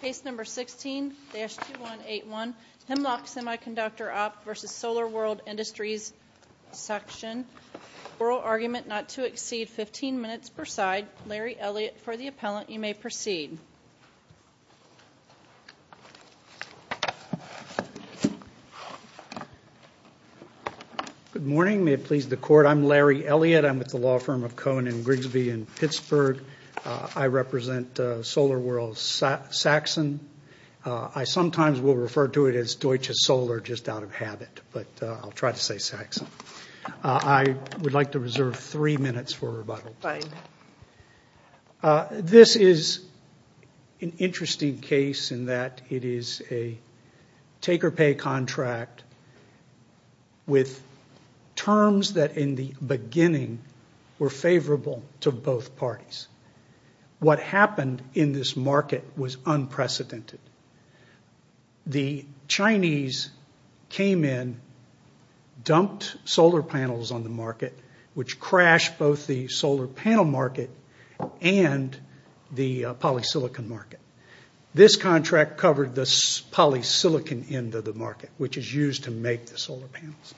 Case number 16-2181, Hemlock Semiconductor op v. SolarWorld Industries section. Oral argument not to exceed 15 minutes per side. Larry Elliott for the appellant. You may proceed. Good morning. May it please the court, I'm Larry Elliott. I'm with the law firm of Cohen & Grigsby in Pittsburgh. I represent SolarWorld Saxon. I sometimes will refer to it as Deutsche Solar just out of habit, but I'll try to say Saxon. I would like to reserve three minutes for rebuttal. This is an interesting case in that it is a take or pay contract with terms that in the beginning were favorable to both parties. What happened in this market was unprecedented. The Chinese came in, dumped solar panels on the market, which crashed both the solar panel market and the polysilicon market. This contract covered the polysilicon end of the market, which is used to make the solar panels.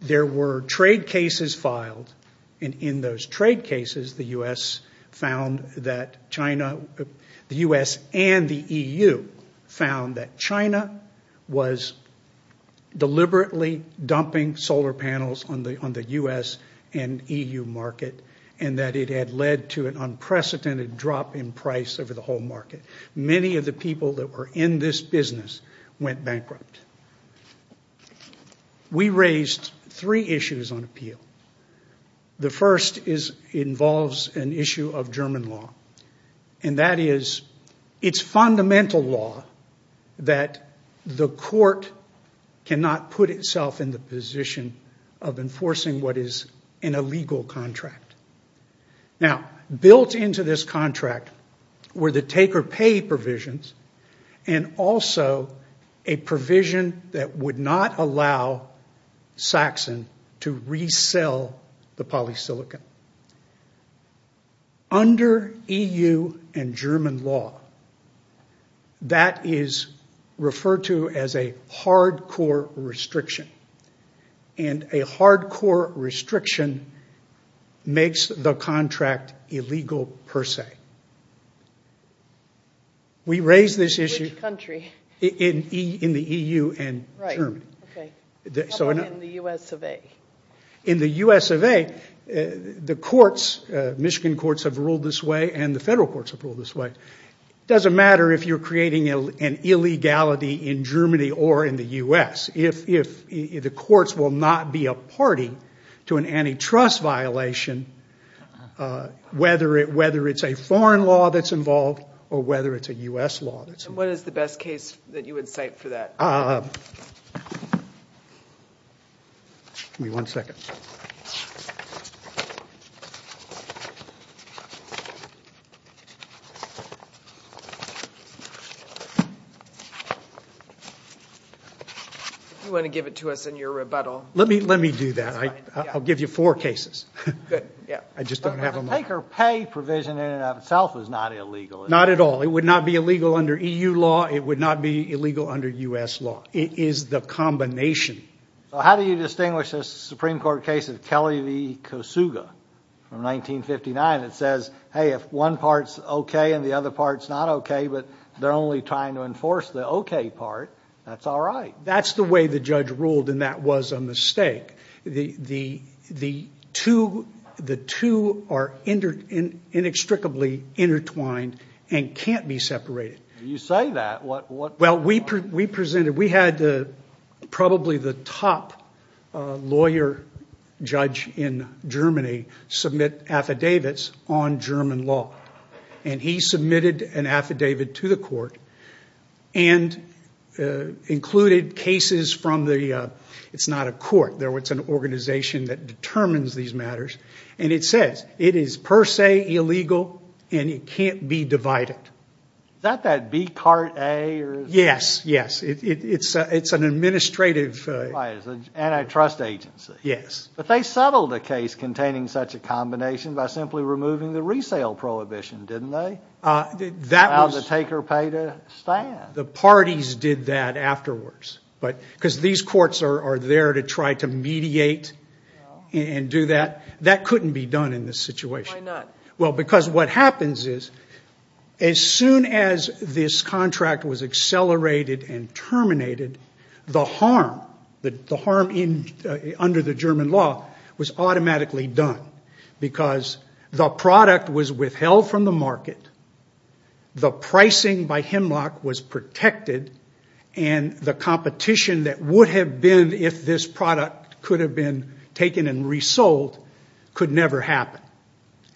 There were trade cases filed. In those trade cases, the U.S. and the EU found that China was deliberately dumping solar panels on the U.S. and EU market and that it had led to an unprecedented drop in price over the whole market. Many of the people that were in this business went bankrupt. We raised three issues on appeal. The first involves an issue of German law, and that is it's fundamental law that the court cannot put itself in the position of enforcing what is an illegal contract. Built into this contract were the take or pay provisions and also a provision that would not allow Saxon to resell the polysilicon. Under EU and German law, that is referred to as a hard core restriction, and a hard core restriction makes the contract illegal per se. We raised this issue in the EU and Germany. How about in the U.S. of A? In the U.S. of A, the Michigan courts have ruled this way and the federal courts have ruled this way. It doesn't matter if you're creating an illegality in Germany or in the U.S. The courts will not be a party to an antitrust violation, whether it's a foreign law that's involved or whether it's a U.S. law. What is the best case that you would cite for that? Give me one second. If you want to give it to us in your rebuttal. Let me do that. I'll give you four cases. Good. I just don't have them all. The take or pay provision in and of itself is not illegal. Not at all. It would not be illegal under EU law. It would not be illegal under U.S. law. It is the combination. So how do you distinguish this Supreme Court case of Kelly v. Kosuga from 1959 that says, hey, if one part's okay and the other part's not okay, but they're only trying to enforce the okay part, that's all right? That's the way the judge ruled, and that was a mistake. The two are inextricably intertwined and can't be separated. You say that. We had probably the top lawyer judge in Germany submit affidavits on German law, and he submitted an affidavit to the court and included cases from the ‑‑ it's not a court. It's an organization that determines these matters, and it says it is per se illegal and it can't be divided. Is that that B CART A? Yes, yes. It's an administrative ‑‑ Right, it's an antitrust agency. Yes. But they settled a case containing such a combination by simply removing the resale prohibition, didn't they? That was ‑‑ Allowed the take or pay to stand. The parties did that afterwards. Because these courts are there to try to mediate and do that. That couldn't be done in this situation. Why not? Well, because what happens is as soon as this contract was accelerated and terminated, the harm under the German law was automatically done. Because the product was withheld from the market, the pricing by Hemlock was protected, and the competition that would have been if this product could have been taken and resold could never happen.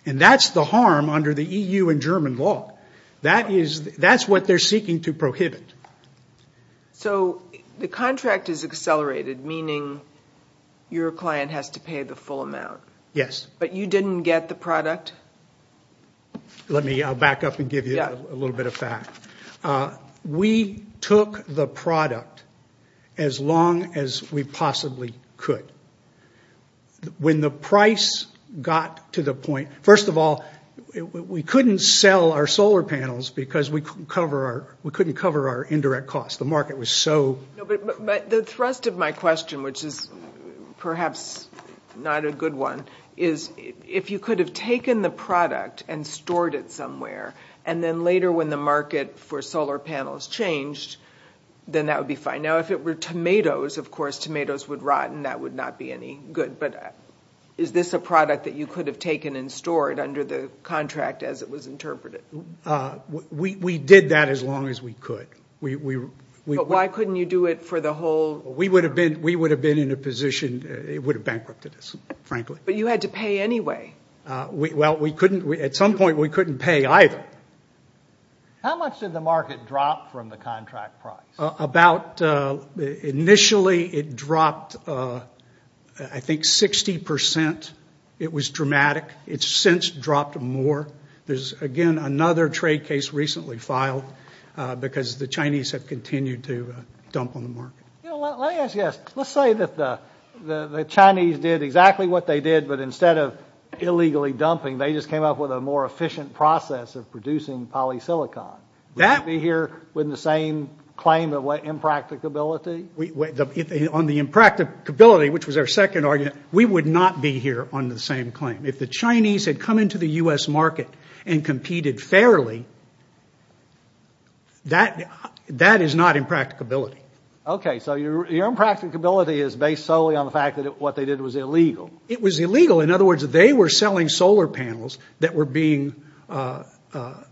And that's the harm under the EU and German law. That's what they're seeking to prohibit. So the contract is accelerated, meaning your client has to pay the full amount. Yes. But you didn't get the product? Let me back up and give you a little bit of fact. We took the product as long as we possibly could. When the price got to the point ‑‑ first of all, we couldn't sell our solar panels because we couldn't cover our indirect costs. The market was so ‑‑ But the thrust of my question, which is perhaps not a good one, is if you could have taken the product and stored it somewhere, and then later when the market for solar panels changed, then that would be fine. Now, if it were tomatoes, of course, tomatoes would rot and that would not be any good. But is this a product that you could have taken and stored under the contract as it was interpreted? We did that as long as we could. But why couldn't you do it for the whole ‑‑ We would have been in a position ‑‑ it would have bankrupted us, frankly. But you had to pay anyway. Well, we couldn't ‑‑ at some point we couldn't pay either. How much did the market drop from the contract price? About ‑‑ initially it dropped, I think, 60%. It was dramatic. It's since dropped more. There's, again, another trade case recently filed because the Chinese have continued to dump on the market. Let me ask you this. Let's say that the Chinese did exactly what they did, but instead of illegally dumping, they just came up with a more efficient process of producing polysilicon. Would you be here with the same claim of impracticability? On the impracticability, which was our second argument, we would not be here on the same claim. If the Chinese had come into the U.S. market and competed fairly, that is not impracticability. Okay. So your impracticability is based solely on the fact that what they did was illegal. It was illegal. In other words, they were selling solar panels that were being ‑‑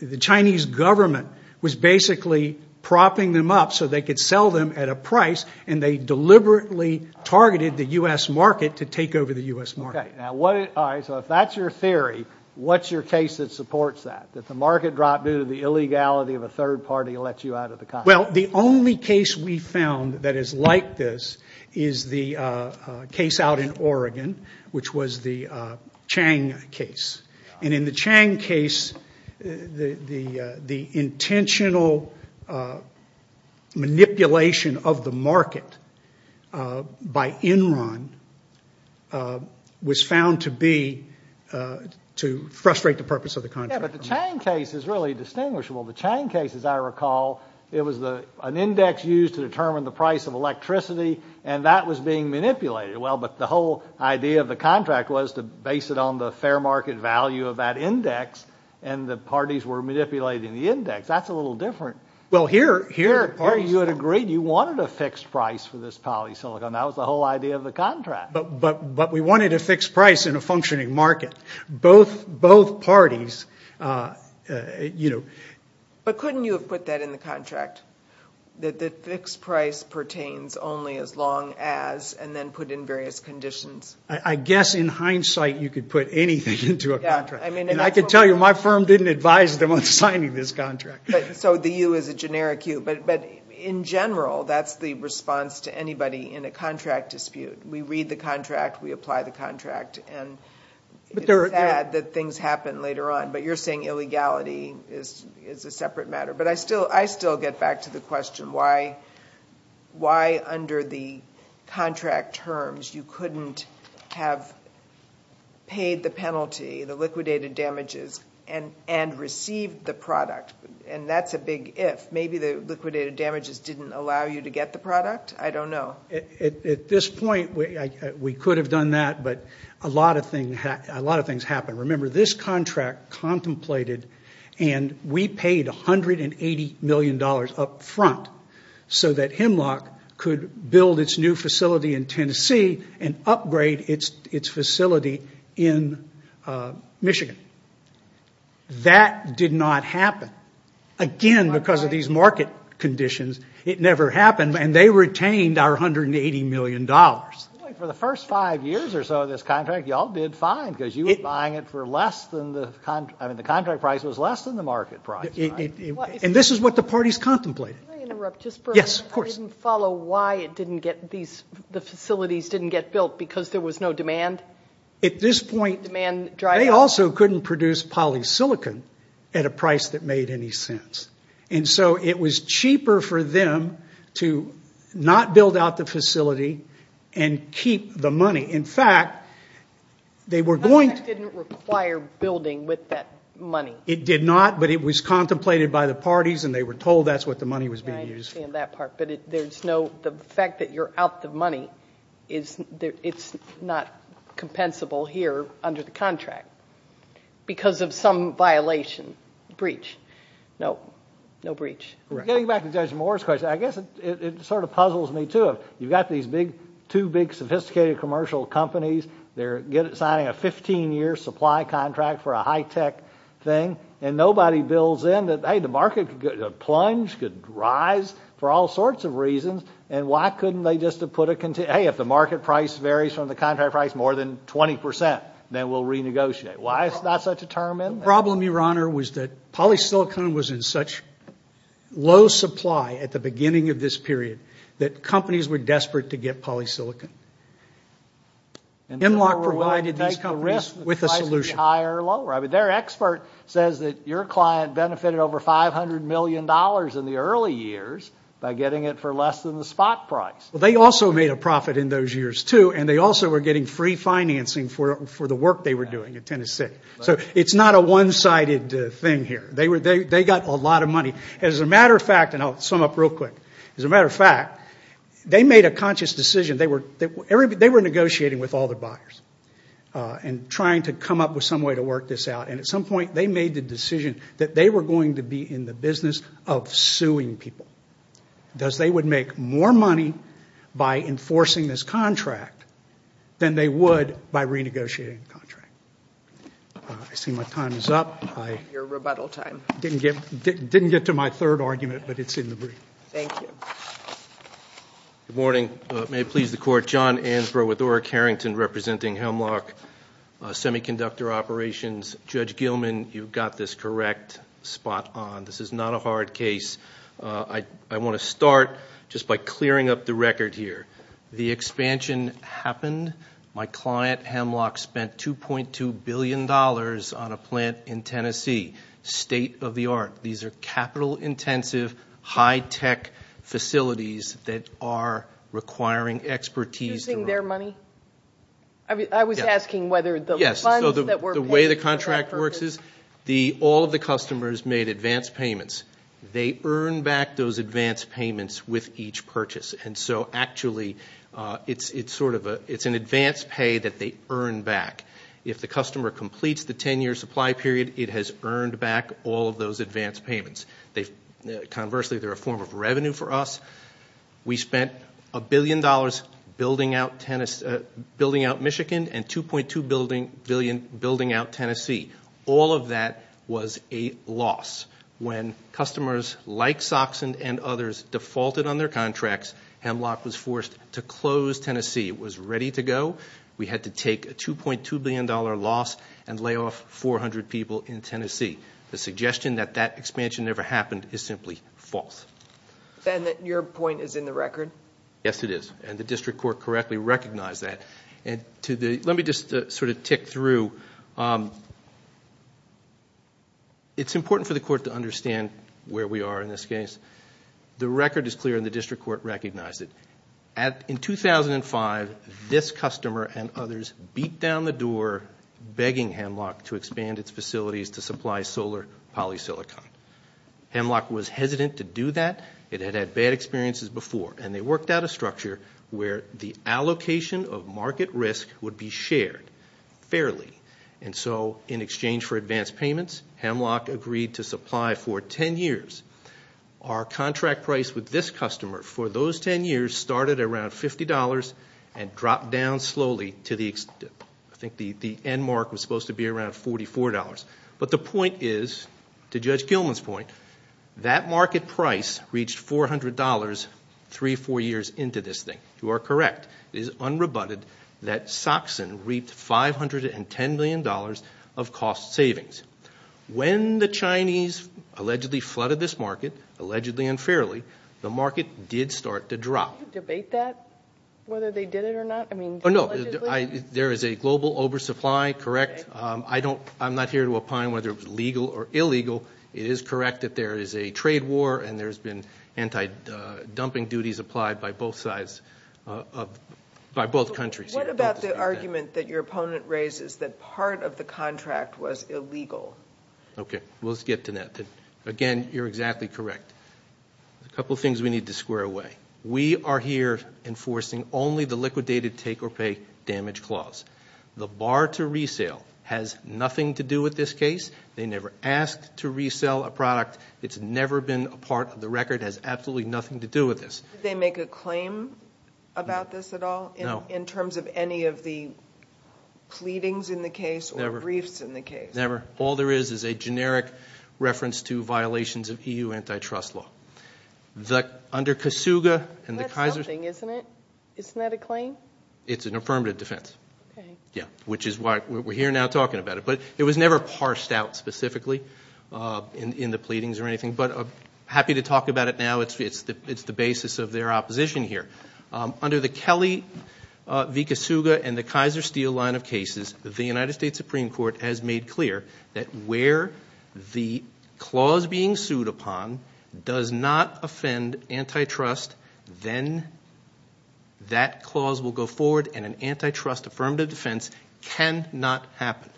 the Chinese government was basically propping them up so they could sell them at a price, and they deliberately targeted the U.S. market to take over the U.S. market. Okay. All right. So if that's your theory, what's your case that supports that, that the market dropped due to the illegality of a third party that let you out of the contract? Well, the only case we found that is like this is the case out in Oregon, which was the Chang case. And in the Chang case, the intentional manipulation of the market by Enron was found to be to frustrate the purpose of the contract. Yeah, but the Chang case is really distinguishable. The Chang case, as I recall, it was an index used to determine the price of electricity, and that was being manipulated. Well, but the whole idea of the contract was to base it on the fair market value of that index, and the parties were manipulating the index. That's a little different. Well, here you had agreed you wanted a fixed price for this polysilicon. That was the whole idea of the contract. But we wanted a fixed price in a functioning market. Both parties, you know. But couldn't you have put that in the contract, that the fixed price pertains only as long as, and then put in various conditions? I guess in hindsight, you could put anything into a contract. And I can tell you, my firm didn't advise them on signing this contract. So the U is a generic U. But in general, that's the response to anybody in a contract dispute. We read the contract, we apply the contract, and it's sad that things happen later on. But you're saying illegality is a separate matter. But I still get back to the question, why under the contract terms you couldn't have paid the penalty, the liquidated damages, and received the product? And that's a big if. Maybe the liquidated damages didn't allow you to get the product? I don't know. Well, at this point, we could have done that, but a lot of things happened. Remember, this contract contemplated, and we paid $180 million up front, so that Hemlock could build its new facility in Tennessee and upgrade its facility in Michigan. That did not happen. Again, because of these market conditions, it never happened. And they retained our $180 million. For the first five years or so of this contract, you all did fine, because you were buying it for less than the contract. I mean, the contract price was less than the market price. And this is what the parties contemplated. Can I interrupt just for a minute? Yes, of course. I didn't follow why the facilities didn't get built, because there was no demand? At this point, they also couldn't produce polysilicon at a price that made any sense. And so it was cheaper for them to not build out the facility and keep the money. In fact, they were going to – The contract didn't require building with that money. It did not, but it was contemplated by the parties, and they were told that's what the money was being used for. I understand that part, but there's no – the fact that you're out the money, it's not compensable here under the contract because of some violation, breach. No, no breach. Getting back to Judge Moore's question, I guess it sort of puzzles me, too. You've got these two big sophisticated commercial companies. They're signing a 15-year supply contract for a high-tech thing, and nobody builds in that, hey, the market could plunge, could rise for all sorts of reasons, and why couldn't they just have put a – hey, if the market price varies from the contract price more than 20 percent, then we'll renegotiate. Why is that such a term? The problem, Your Honor, was that polysilicon was in such low supply at the beginning of this period that companies were desperate to get polysilicon. MLOC provided these companies with a solution. Their expert says that your client benefited over $500 million in the early years by getting it for less than the spot price. Well, they also made a profit in those years, too, and they also were getting free financing for the work they were doing in Tennessee. So it's not a one-sided thing here. They got a lot of money. As a matter of fact – and I'll sum up real quick. As a matter of fact, they made a conscious decision. They were negotiating with all their buyers and trying to come up with some way to work this out, and at some point they made the decision that they were going to be in the business of suing people because they would make more money by enforcing this contract than they would by renegotiating the contract. I see my time is up. Your rebuttal time. I didn't get to my third argument, but it's in the brief. Thank you. Good morning. May it please the Court. John Ansborough with Oreck Harrington representing Hemlock Semiconductor Operations. Judge Gilman, you've got this correct spot on. This is not a hard case. I want to start just by clearing up the record here. The expansion happened. My client, Hemlock, spent $2.2 billion on a plant in Tennessee. State of the art. These are capital-intensive, high-tech facilities that are requiring expertise. Using their money? I was asking whether the funds that were paid for that purpose. Yes, so the way the contract works is all of the customers made advance payments. They earned back those advance payments with each purchase, and so actually it's an advance pay that they earn back. If the customer completes the 10-year supply period, it has earned back all of those advance payments. Conversely, they're a form of revenue for us. We spent $1 billion building out Michigan and $2.2 billion building out Tennessee. All of that was a loss. When customers like Soxen and others defaulted on their contracts, Hemlock was forced to close Tennessee. It was ready to go. We had to take a $2.2 billion loss and lay off 400 people in Tennessee. The suggestion that that expansion never happened is simply false. Ben, your point is in the record? Yes, it is, and the district court correctly recognized that. Let me just sort of tick through. It's important for the court to understand where we are in this case. The record is clear, and the district court recognized it. In 2005, this customer and others beat down the door, begging Hemlock to expand its facilities to supply solar polysilicon. Hemlock was hesitant to do that. It had had bad experiences before, and they worked out a structure where the allocation of market risk would be shared fairly, and so in exchange for advance payments, Hemlock agreed to supply for 10 years. Our contract price with this customer for those 10 years started at around $50 and dropped down slowly to the extent, I think the end mark was supposed to be around $44. But the point is, to Judge Gilman's point, that market price reached $400 three, four years into this thing. You are correct. It is unrebutted that Soxen reaped $510 million of cost savings. When the Chinese allegedly flooded this market, allegedly and fairly, the market did start to drop. Can you debate that, whether they did it or not? No. There is a global oversupply, correct. I'm not here to opine whether it was legal or illegal. It is correct that there is a trade war, and there's been anti-dumping duties applied by both sides, by both countries. What about the argument that your opponent raises that part of the contract was illegal? Okay. We'll get to that. Again, you're exactly correct. A couple of things we need to square away. We are here enforcing only the liquidated take or pay damage clause. The bar to resale has nothing to do with this case. They never asked to resell a product. It's never been a part of the record. It has absolutely nothing to do with this. Did they make a claim about this at all? No. In terms of any of the pleadings in the case or briefs in the case? Never. All there is is a generic reference to violations of EU antitrust law. Under Kasuga and the Kaiser. That's something, isn't it? Isn't that a claim? It's an affirmative defense. Okay. Yeah, which is why we're here now talking about it. But it was never parsed out specifically in the pleadings or anything. But I'm happy to talk about it now. It's the basis of their opposition here. Under the Kelly v. Kasuga and the Kaiser Steel line of cases, the United States Supreme Court has made clear that where the clause being sued upon does not offend antitrust, then that clause will go forward and an antitrust affirmative defense cannot happen.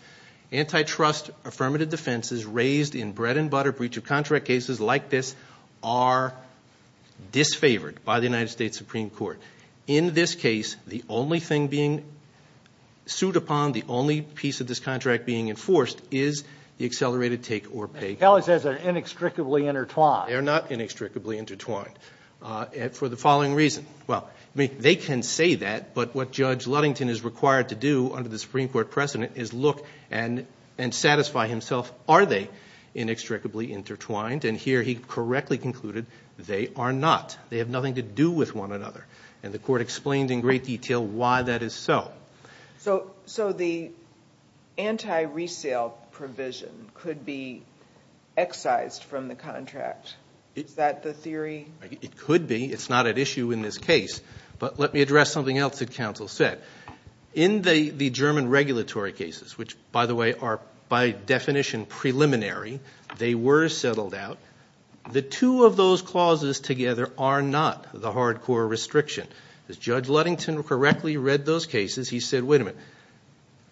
Antitrust affirmative defenses raised in bread and butter breach of contract cases like this are disfavored by the United States Supreme Court. In this case, the only thing being sued upon, the only piece of this contract being enforced is the accelerated take or pay clause. Kelly says they're inextricably intertwined. They're not inextricably intertwined for the following reason. Well, they can say that, but what Judge Ludington is required to do under the Supreme Court precedent is look and satisfy himself, are they inextricably intertwined? And here he correctly concluded they are not. They have nothing to do with one another. And the court explained in great detail why that is so. So the anti-resale provision could be excised from the contract. Is that the theory? It could be. It's not at issue in this case. But let me address something else that counsel said. In the German regulatory cases, which, by the way, are by definition preliminary, they were settled out, the two of those clauses together are not the hardcore restriction. As Judge Ludington correctly read those cases, he said, wait a minute,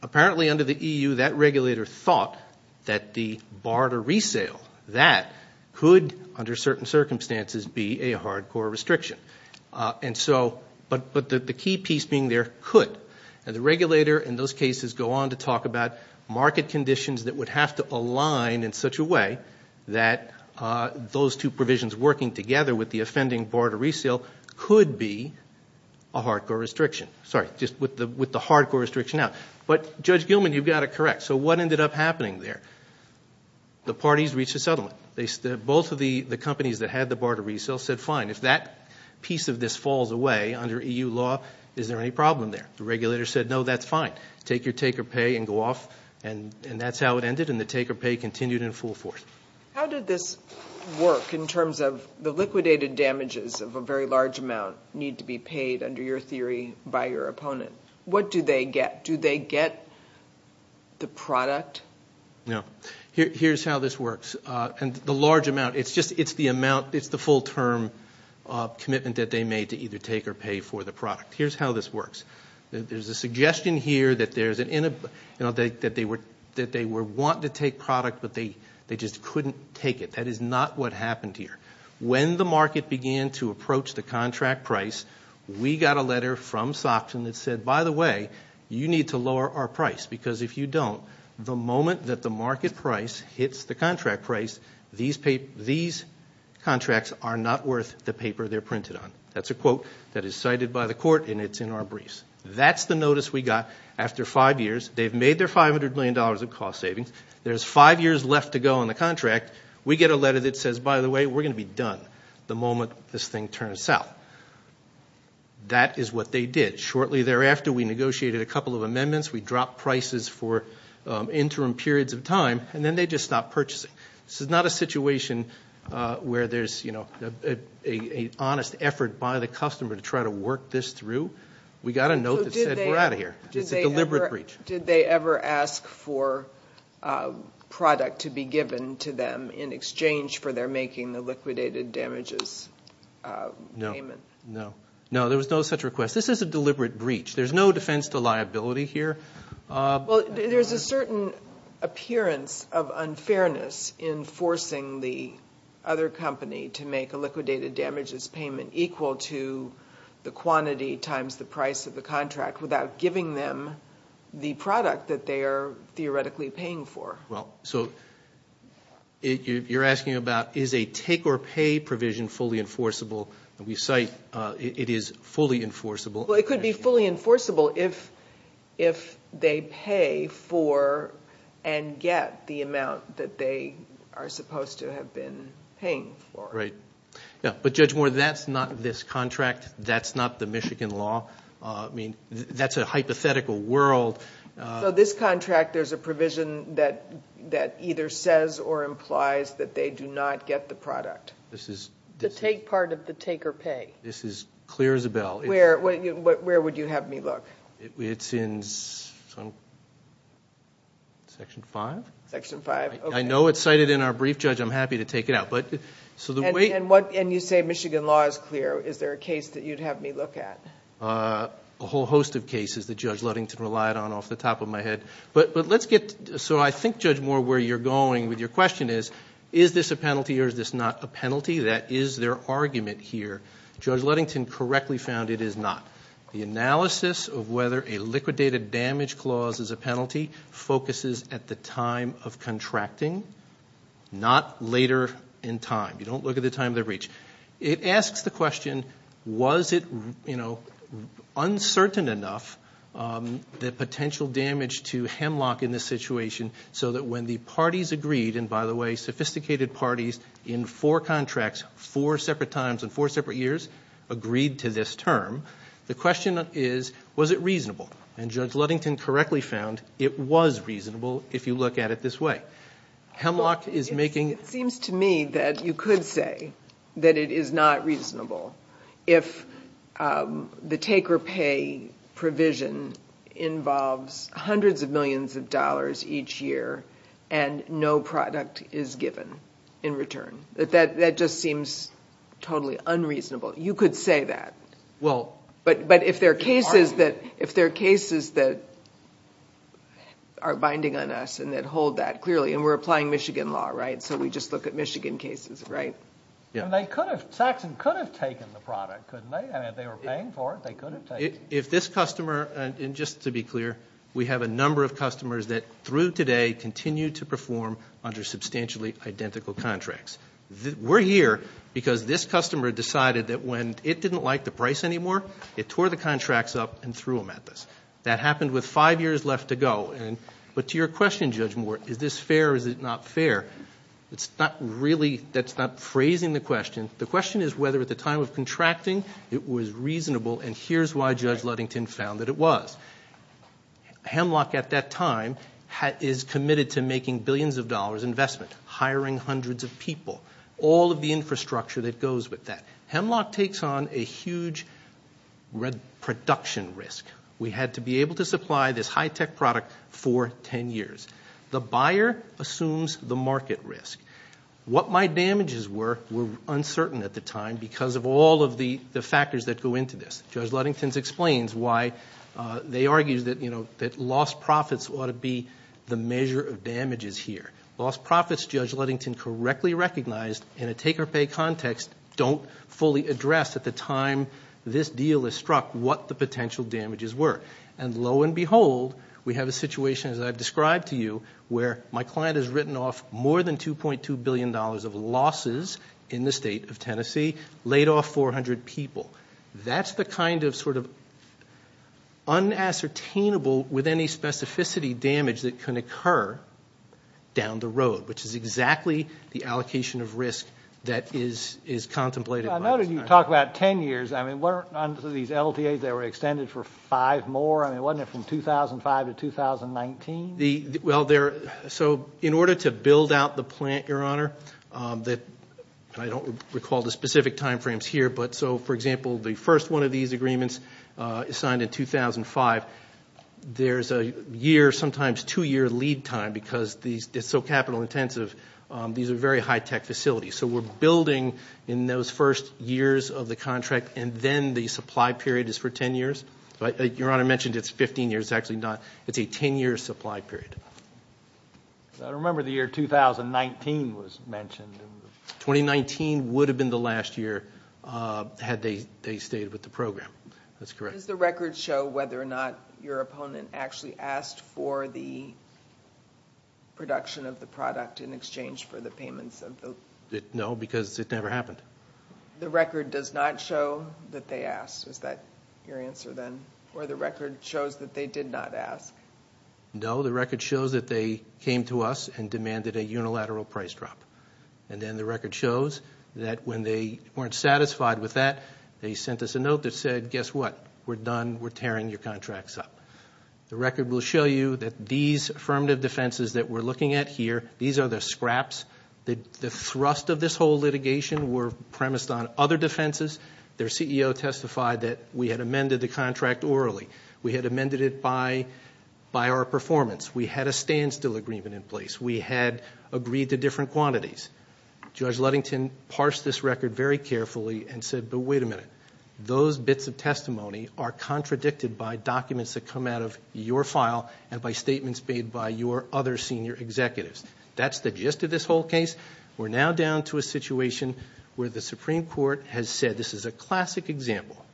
apparently under the EU that regulator thought that the bar to resale, that could, under certain circumstances, be a hardcore restriction. And so, but the key piece being there, could. And the regulator in those cases go on to talk about market conditions that would have to align in such a way that those two provisions working together with the offending bar to resale could be a hardcore restriction. Sorry, just with the hardcore restriction out. But, Judge Gilman, you've got it correct. So what ended up happening there? The parties reached a settlement. Both of the companies that had the bar to resale said, fine, if that piece of this falls away under EU law, is there any problem there? The regulator said, no, that's fine. Take your take or pay and go off. And that's how it ended, and the take or pay continued in full force. How did this work in terms of the liquidated damages of a very large amount need to be paid under your theory by your opponent? What do they get? Do they get the product? No. Here's how this works. And the large amount, it's just the amount, it's the full-term commitment that they made to either take or pay for the product. Here's how this works. There's a suggestion here that they were wanting to take product, but they just couldn't take it. That is not what happened here. When the market began to approach the contract price, we got a letter from Soxen that said, by the way, you need to lower our price. Because if you don't, the moment that the market price hits the contract price, these contracts are not worth the paper they're printed on. That's a quote that is cited by the court, and it's in our briefs. That's the notice we got after five years. They've made their $500 million of cost savings. There's five years left to go on the contract. We get a letter that says, by the way, we're going to be done the moment this thing turns south. That is what they did. Shortly thereafter, we negotiated a couple of amendments. We dropped prices for interim periods of time, and then they just stopped purchasing. This is not a situation where there's, you know, an honest effort by the customer to try to work this through. We got a note that said, we're out of here. It's a deliberate breach. Did they ever ask for product to be given to them in exchange for their making the liquidated damages payment? No. No, there was no such request. This is a deliberate breach. There's no defense to liability here. Well, there's a certain appearance of unfairness in forcing the other company to make a liquidated damages payment equal to the quantity times the price of the contract without giving them the product that they are theoretically paying for. Well, so you're asking about, is a take-or-pay provision fully enforceable? We cite it is fully enforceable. Well, it could be fully enforceable if they pay for and get the amount that they are supposed to have been paying for. Right. Yeah, but Judge Moore, that's not this contract. That's not the Michigan law. I mean, that's a hypothetical world. So this contract, there's a provision that either says or implies that they do not get the product. The take part of the take-or-pay. This is clear as a bell. Where would you have me look? It's in Section 5. Section 5, okay. I know it's cited in our brief, Judge. I'm happy to take it out. And you say Michigan law is clear. Is there a case that you'd have me look at? A whole host of cases that Judge Ludington relied on off the top of my head. But let's get, so I think, Judge Moore, where you're going with your question is, is this a penalty or is this not a penalty? That is their argument here. Judge Ludington correctly found it is not. The analysis of whether a liquidated damage clause is a penalty focuses at the time of contracting, not later in time. You don't look at the time of the breach. It asks the question, was it, you know, uncertain enough, the potential damage to Hemlock in this situation, so that when the parties agreed, and by the way, sophisticated parties, in four contracts, four separate times in four separate years, agreed to this term. The question is, was it reasonable? And Judge Ludington correctly found it was reasonable if you look at it this way. Hemlock is making — It seems to me that you could say that it is not reasonable. If the take-or-pay provision involves hundreds of millions of dollars each year and no product is given in return. That just seems totally unreasonable. You could say that. But if there are cases that are binding on us and that hold that clearly, and we're applying Michigan law, right? So we just look at Michigan cases, right? And they could have — Saxon could have taken the product, couldn't they? I mean, if they were paying for it, they could have taken it. If this customer — and just to be clear, we have a number of customers that, through today, continue to perform under substantially identical contracts. We're here because this customer decided that when it didn't like the price anymore, it tore the contracts up and threw them at us. That happened with five years left to go. But to your question, Judge Moore, is this fair or is it not fair? It's not really — that's not phrasing the question. The question is whether, at the time of contracting, it was reasonable, and here's why Judge Ludington found that it was. Hemlock, at that time, is committed to making billions of dollars investment, hiring hundreds of people, all of the infrastructure that goes with that. Hemlock takes on a huge production risk. We had to be able to supply this high-tech product for 10 years. The buyer assumes the market risk. What my damages were were uncertain at the time because of all of the factors that go into this. Judge Ludington explains why they argue that lost profits ought to be the measure of damages here. Lost profits, Judge Ludington correctly recognized, in a take-or-pay context, don't fully address, at the time this deal is struck, what the potential damages were. And lo and behold, we have a situation, as I've described to you, where my client has written off more than $2.2 billion of losses in the state of Tennessee, laid off 400 people. That's the kind of sort of unassertainable, with any specificity, damage that can occur down the road, which is exactly the allocation of risk that is contemplated by this man. I noted you talk about 10 years. Under these LTAs, they were extended for five more. I mean, wasn't it from 2005 to 2019? Well, so in order to build out the plant, Your Honor, I don't recall the specific time frames here, but so, for example, the first one of these agreements is signed in 2005. There's a year, sometimes two-year lead time because it's so capital-intensive. These are very high-tech facilities. So we're building in those first years of the contract, and then the supply period is for 10 years. Your Honor mentioned it's 15 years. It's actually not. It's a 10-year supply period. I remember the year 2019 was mentioned. 2019 would have been the last year had they stayed with the program. That's correct. Does the record show whether or not your opponent actually asked for the production of the product in exchange for the payments of the loan? No, because it never happened. The record does not show that they asked. Is that your answer then? Or the record shows that they did not ask? No, the record shows that they came to us and demanded a unilateral price drop. And then the record shows that when they weren't satisfied with that, they sent us a note that said, guess what? We're done. We're tearing your contracts up. The record will show you that these affirmative defenses that we're looking at here, these are the scraps. The thrust of this whole litigation were premised on other defenses. Their CEO testified that we had amended the contract orally. We had amended it by our performance. We had a standstill agreement in place. We had agreed to different quantities. Judge Ludington parsed this record very carefully and said, but wait a minute. Those bits of testimony are contradicted by documents that come out of your file and by statements made by your other senior executives. That's the gist of this whole case. We're now down to a situation where the Supreme Court has said this is a classic example.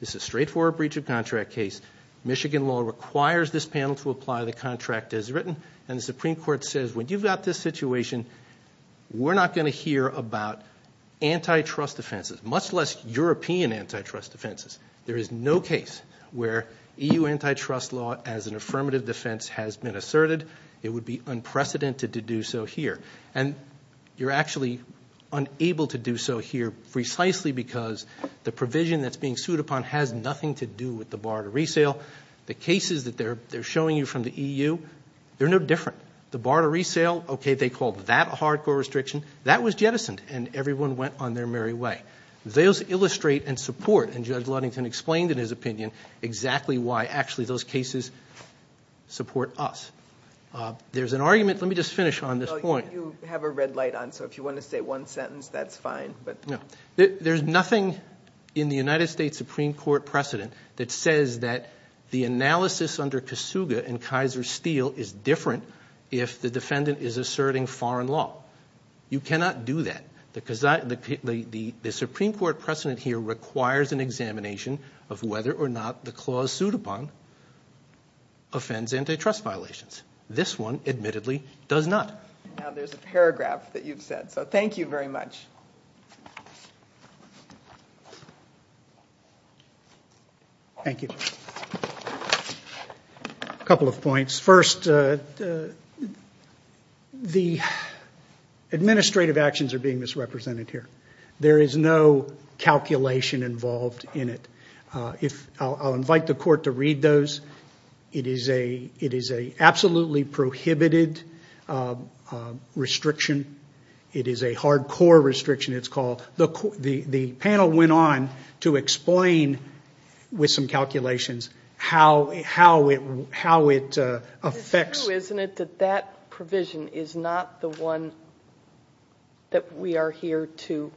This is straightforward breach of contract case. Michigan law requires this panel to apply the contract as written, and the Supreme Court says, when you've got this situation, we're not going to hear about antitrust defenses, much less European antitrust defenses. There is no case where EU antitrust law as an affirmative defense has been asserted. It would be unprecedented to do so here. You're actually unable to do so here precisely because the provision that's being sued upon has nothing to do with the bar to resale. The cases that they're showing you from the EU, they're no different. The bar to resale, okay, they called that a hardcore restriction. That was jettisoned, and everyone went on their merry way. Those illustrate and support, and Judge Ludington explained in his opinion, exactly why actually those cases support us. There's an argument. Let me just finish on this point. You have a red light on, so if you want to say one sentence, that's fine. There's nothing in the United States Supreme Court precedent that says that the analysis under Kasuga and Kaiser Steel is different if the defendant is asserting foreign law. You cannot do that. The Supreme Court precedent here requires an examination of whether or not the clause sued upon offends antitrust violations. This one, admittedly, does not. Now there's a paragraph that you've said, so thank you very much. Thank you. A couple of points. First, the administrative actions are being misrepresented here. There is no calculation involved in it. I'll invite the court to read those. It is an absolutely prohibited restriction. It is a hardcore restriction. The panel went on to explain with some calculations how it affects. It's true, isn't it, that that provision is not the one that we are here to.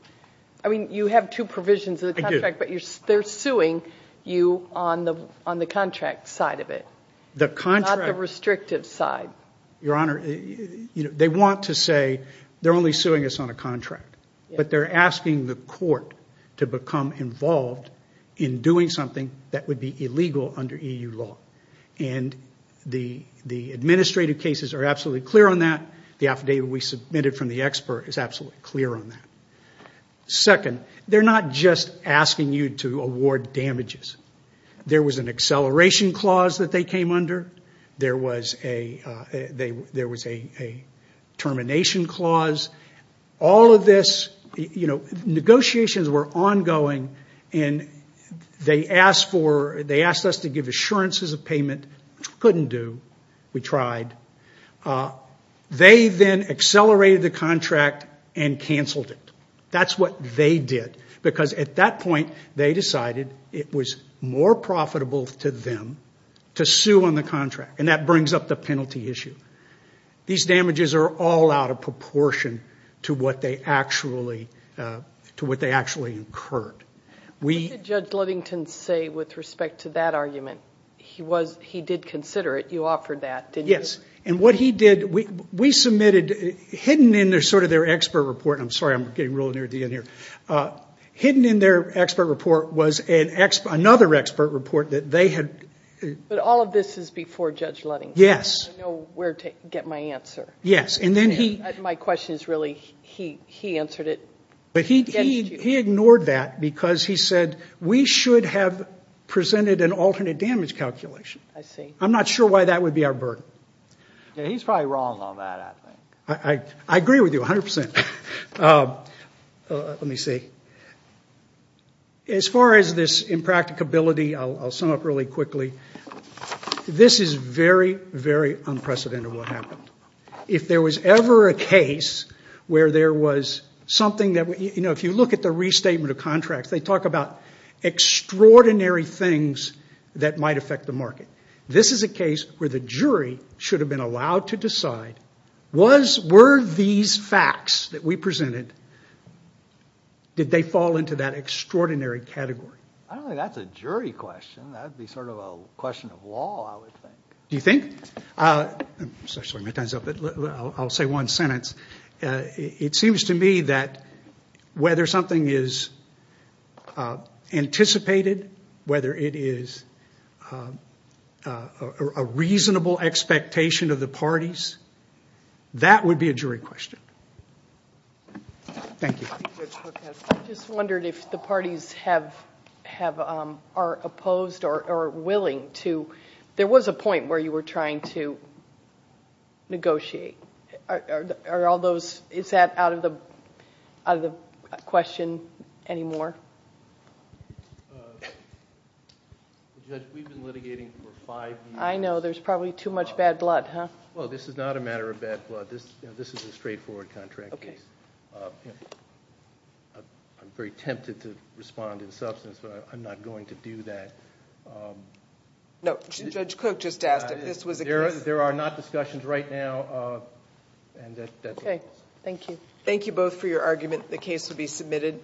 I mean, you have two provisions of the contract, but they're suing you on the contract side of it, not the restrictive side. Your Honor, they want to say they're only suing us on a contract, but they're asking the court to become involved in doing something that would be illegal under EU law. The administrative cases are absolutely clear on that. The affidavit we submitted from the expert is absolutely clear on that. Second, they're not just asking you to award damages. There was an acceleration clause that they came under. There was a termination clause. All of this, you know, negotiations were ongoing, and they asked us to give assurances of payment, which we couldn't do. We tried. They then accelerated the contract and canceled it. That's what they did, because at that point, they decided it was more profitable to them to sue on the contract, and that brings up the penalty issue. These damages are all out of proportion to what they actually incurred. What did Judge Livington say with respect to that argument? He did consider it. You offered that, didn't you? Yes, and what he did, we submitted hidden in sort of their expert report. I'm sorry, I'm getting really near the end here. Hidden in their expert report was another expert report that they had... But all of this is before Judge Ludding. Yes. I don't know where to get my answer. Yes, and then he... My question is really, he answered it. He ignored that because he said, we should have presented an alternate damage calculation. I see. I'm not sure why that would be our burden. He's probably wrong on that, I think. I agree with you 100%. Let me see. As far as this impracticability, I'll sum up really quickly. This is very, very unprecedented what happened. If there was ever a case where there was something that... If you look at the restatement of contracts, they talk about extraordinary things that might affect the market. This is a case where the jury should have been allowed to decide, were these facts that we presented, did they fall into that extraordinary category? I don't think that's a jury question. That would be sort of a question of law, I would think. Do you think? I'm sorry, my time's up, but I'll say one sentence. It seems to me that whether something is anticipated, whether it is a reasonable expectation of the parties, that would be a jury question. Thank you. I just wondered if the parties are opposed or willing to... Are all those... Is that out of the question anymore? Judge, we've been litigating for five years. I know. There's probably too much bad blood, huh? Well, this is not a matter of bad blood. This is a straightforward contract case. Okay. I'm very tempted to respond in substance, but I'm not going to do that. No, Judge Cook just asked if this was a case... There are not discussions right now. Okay. Thank you. Thank you both for your argument. The case will be submitted.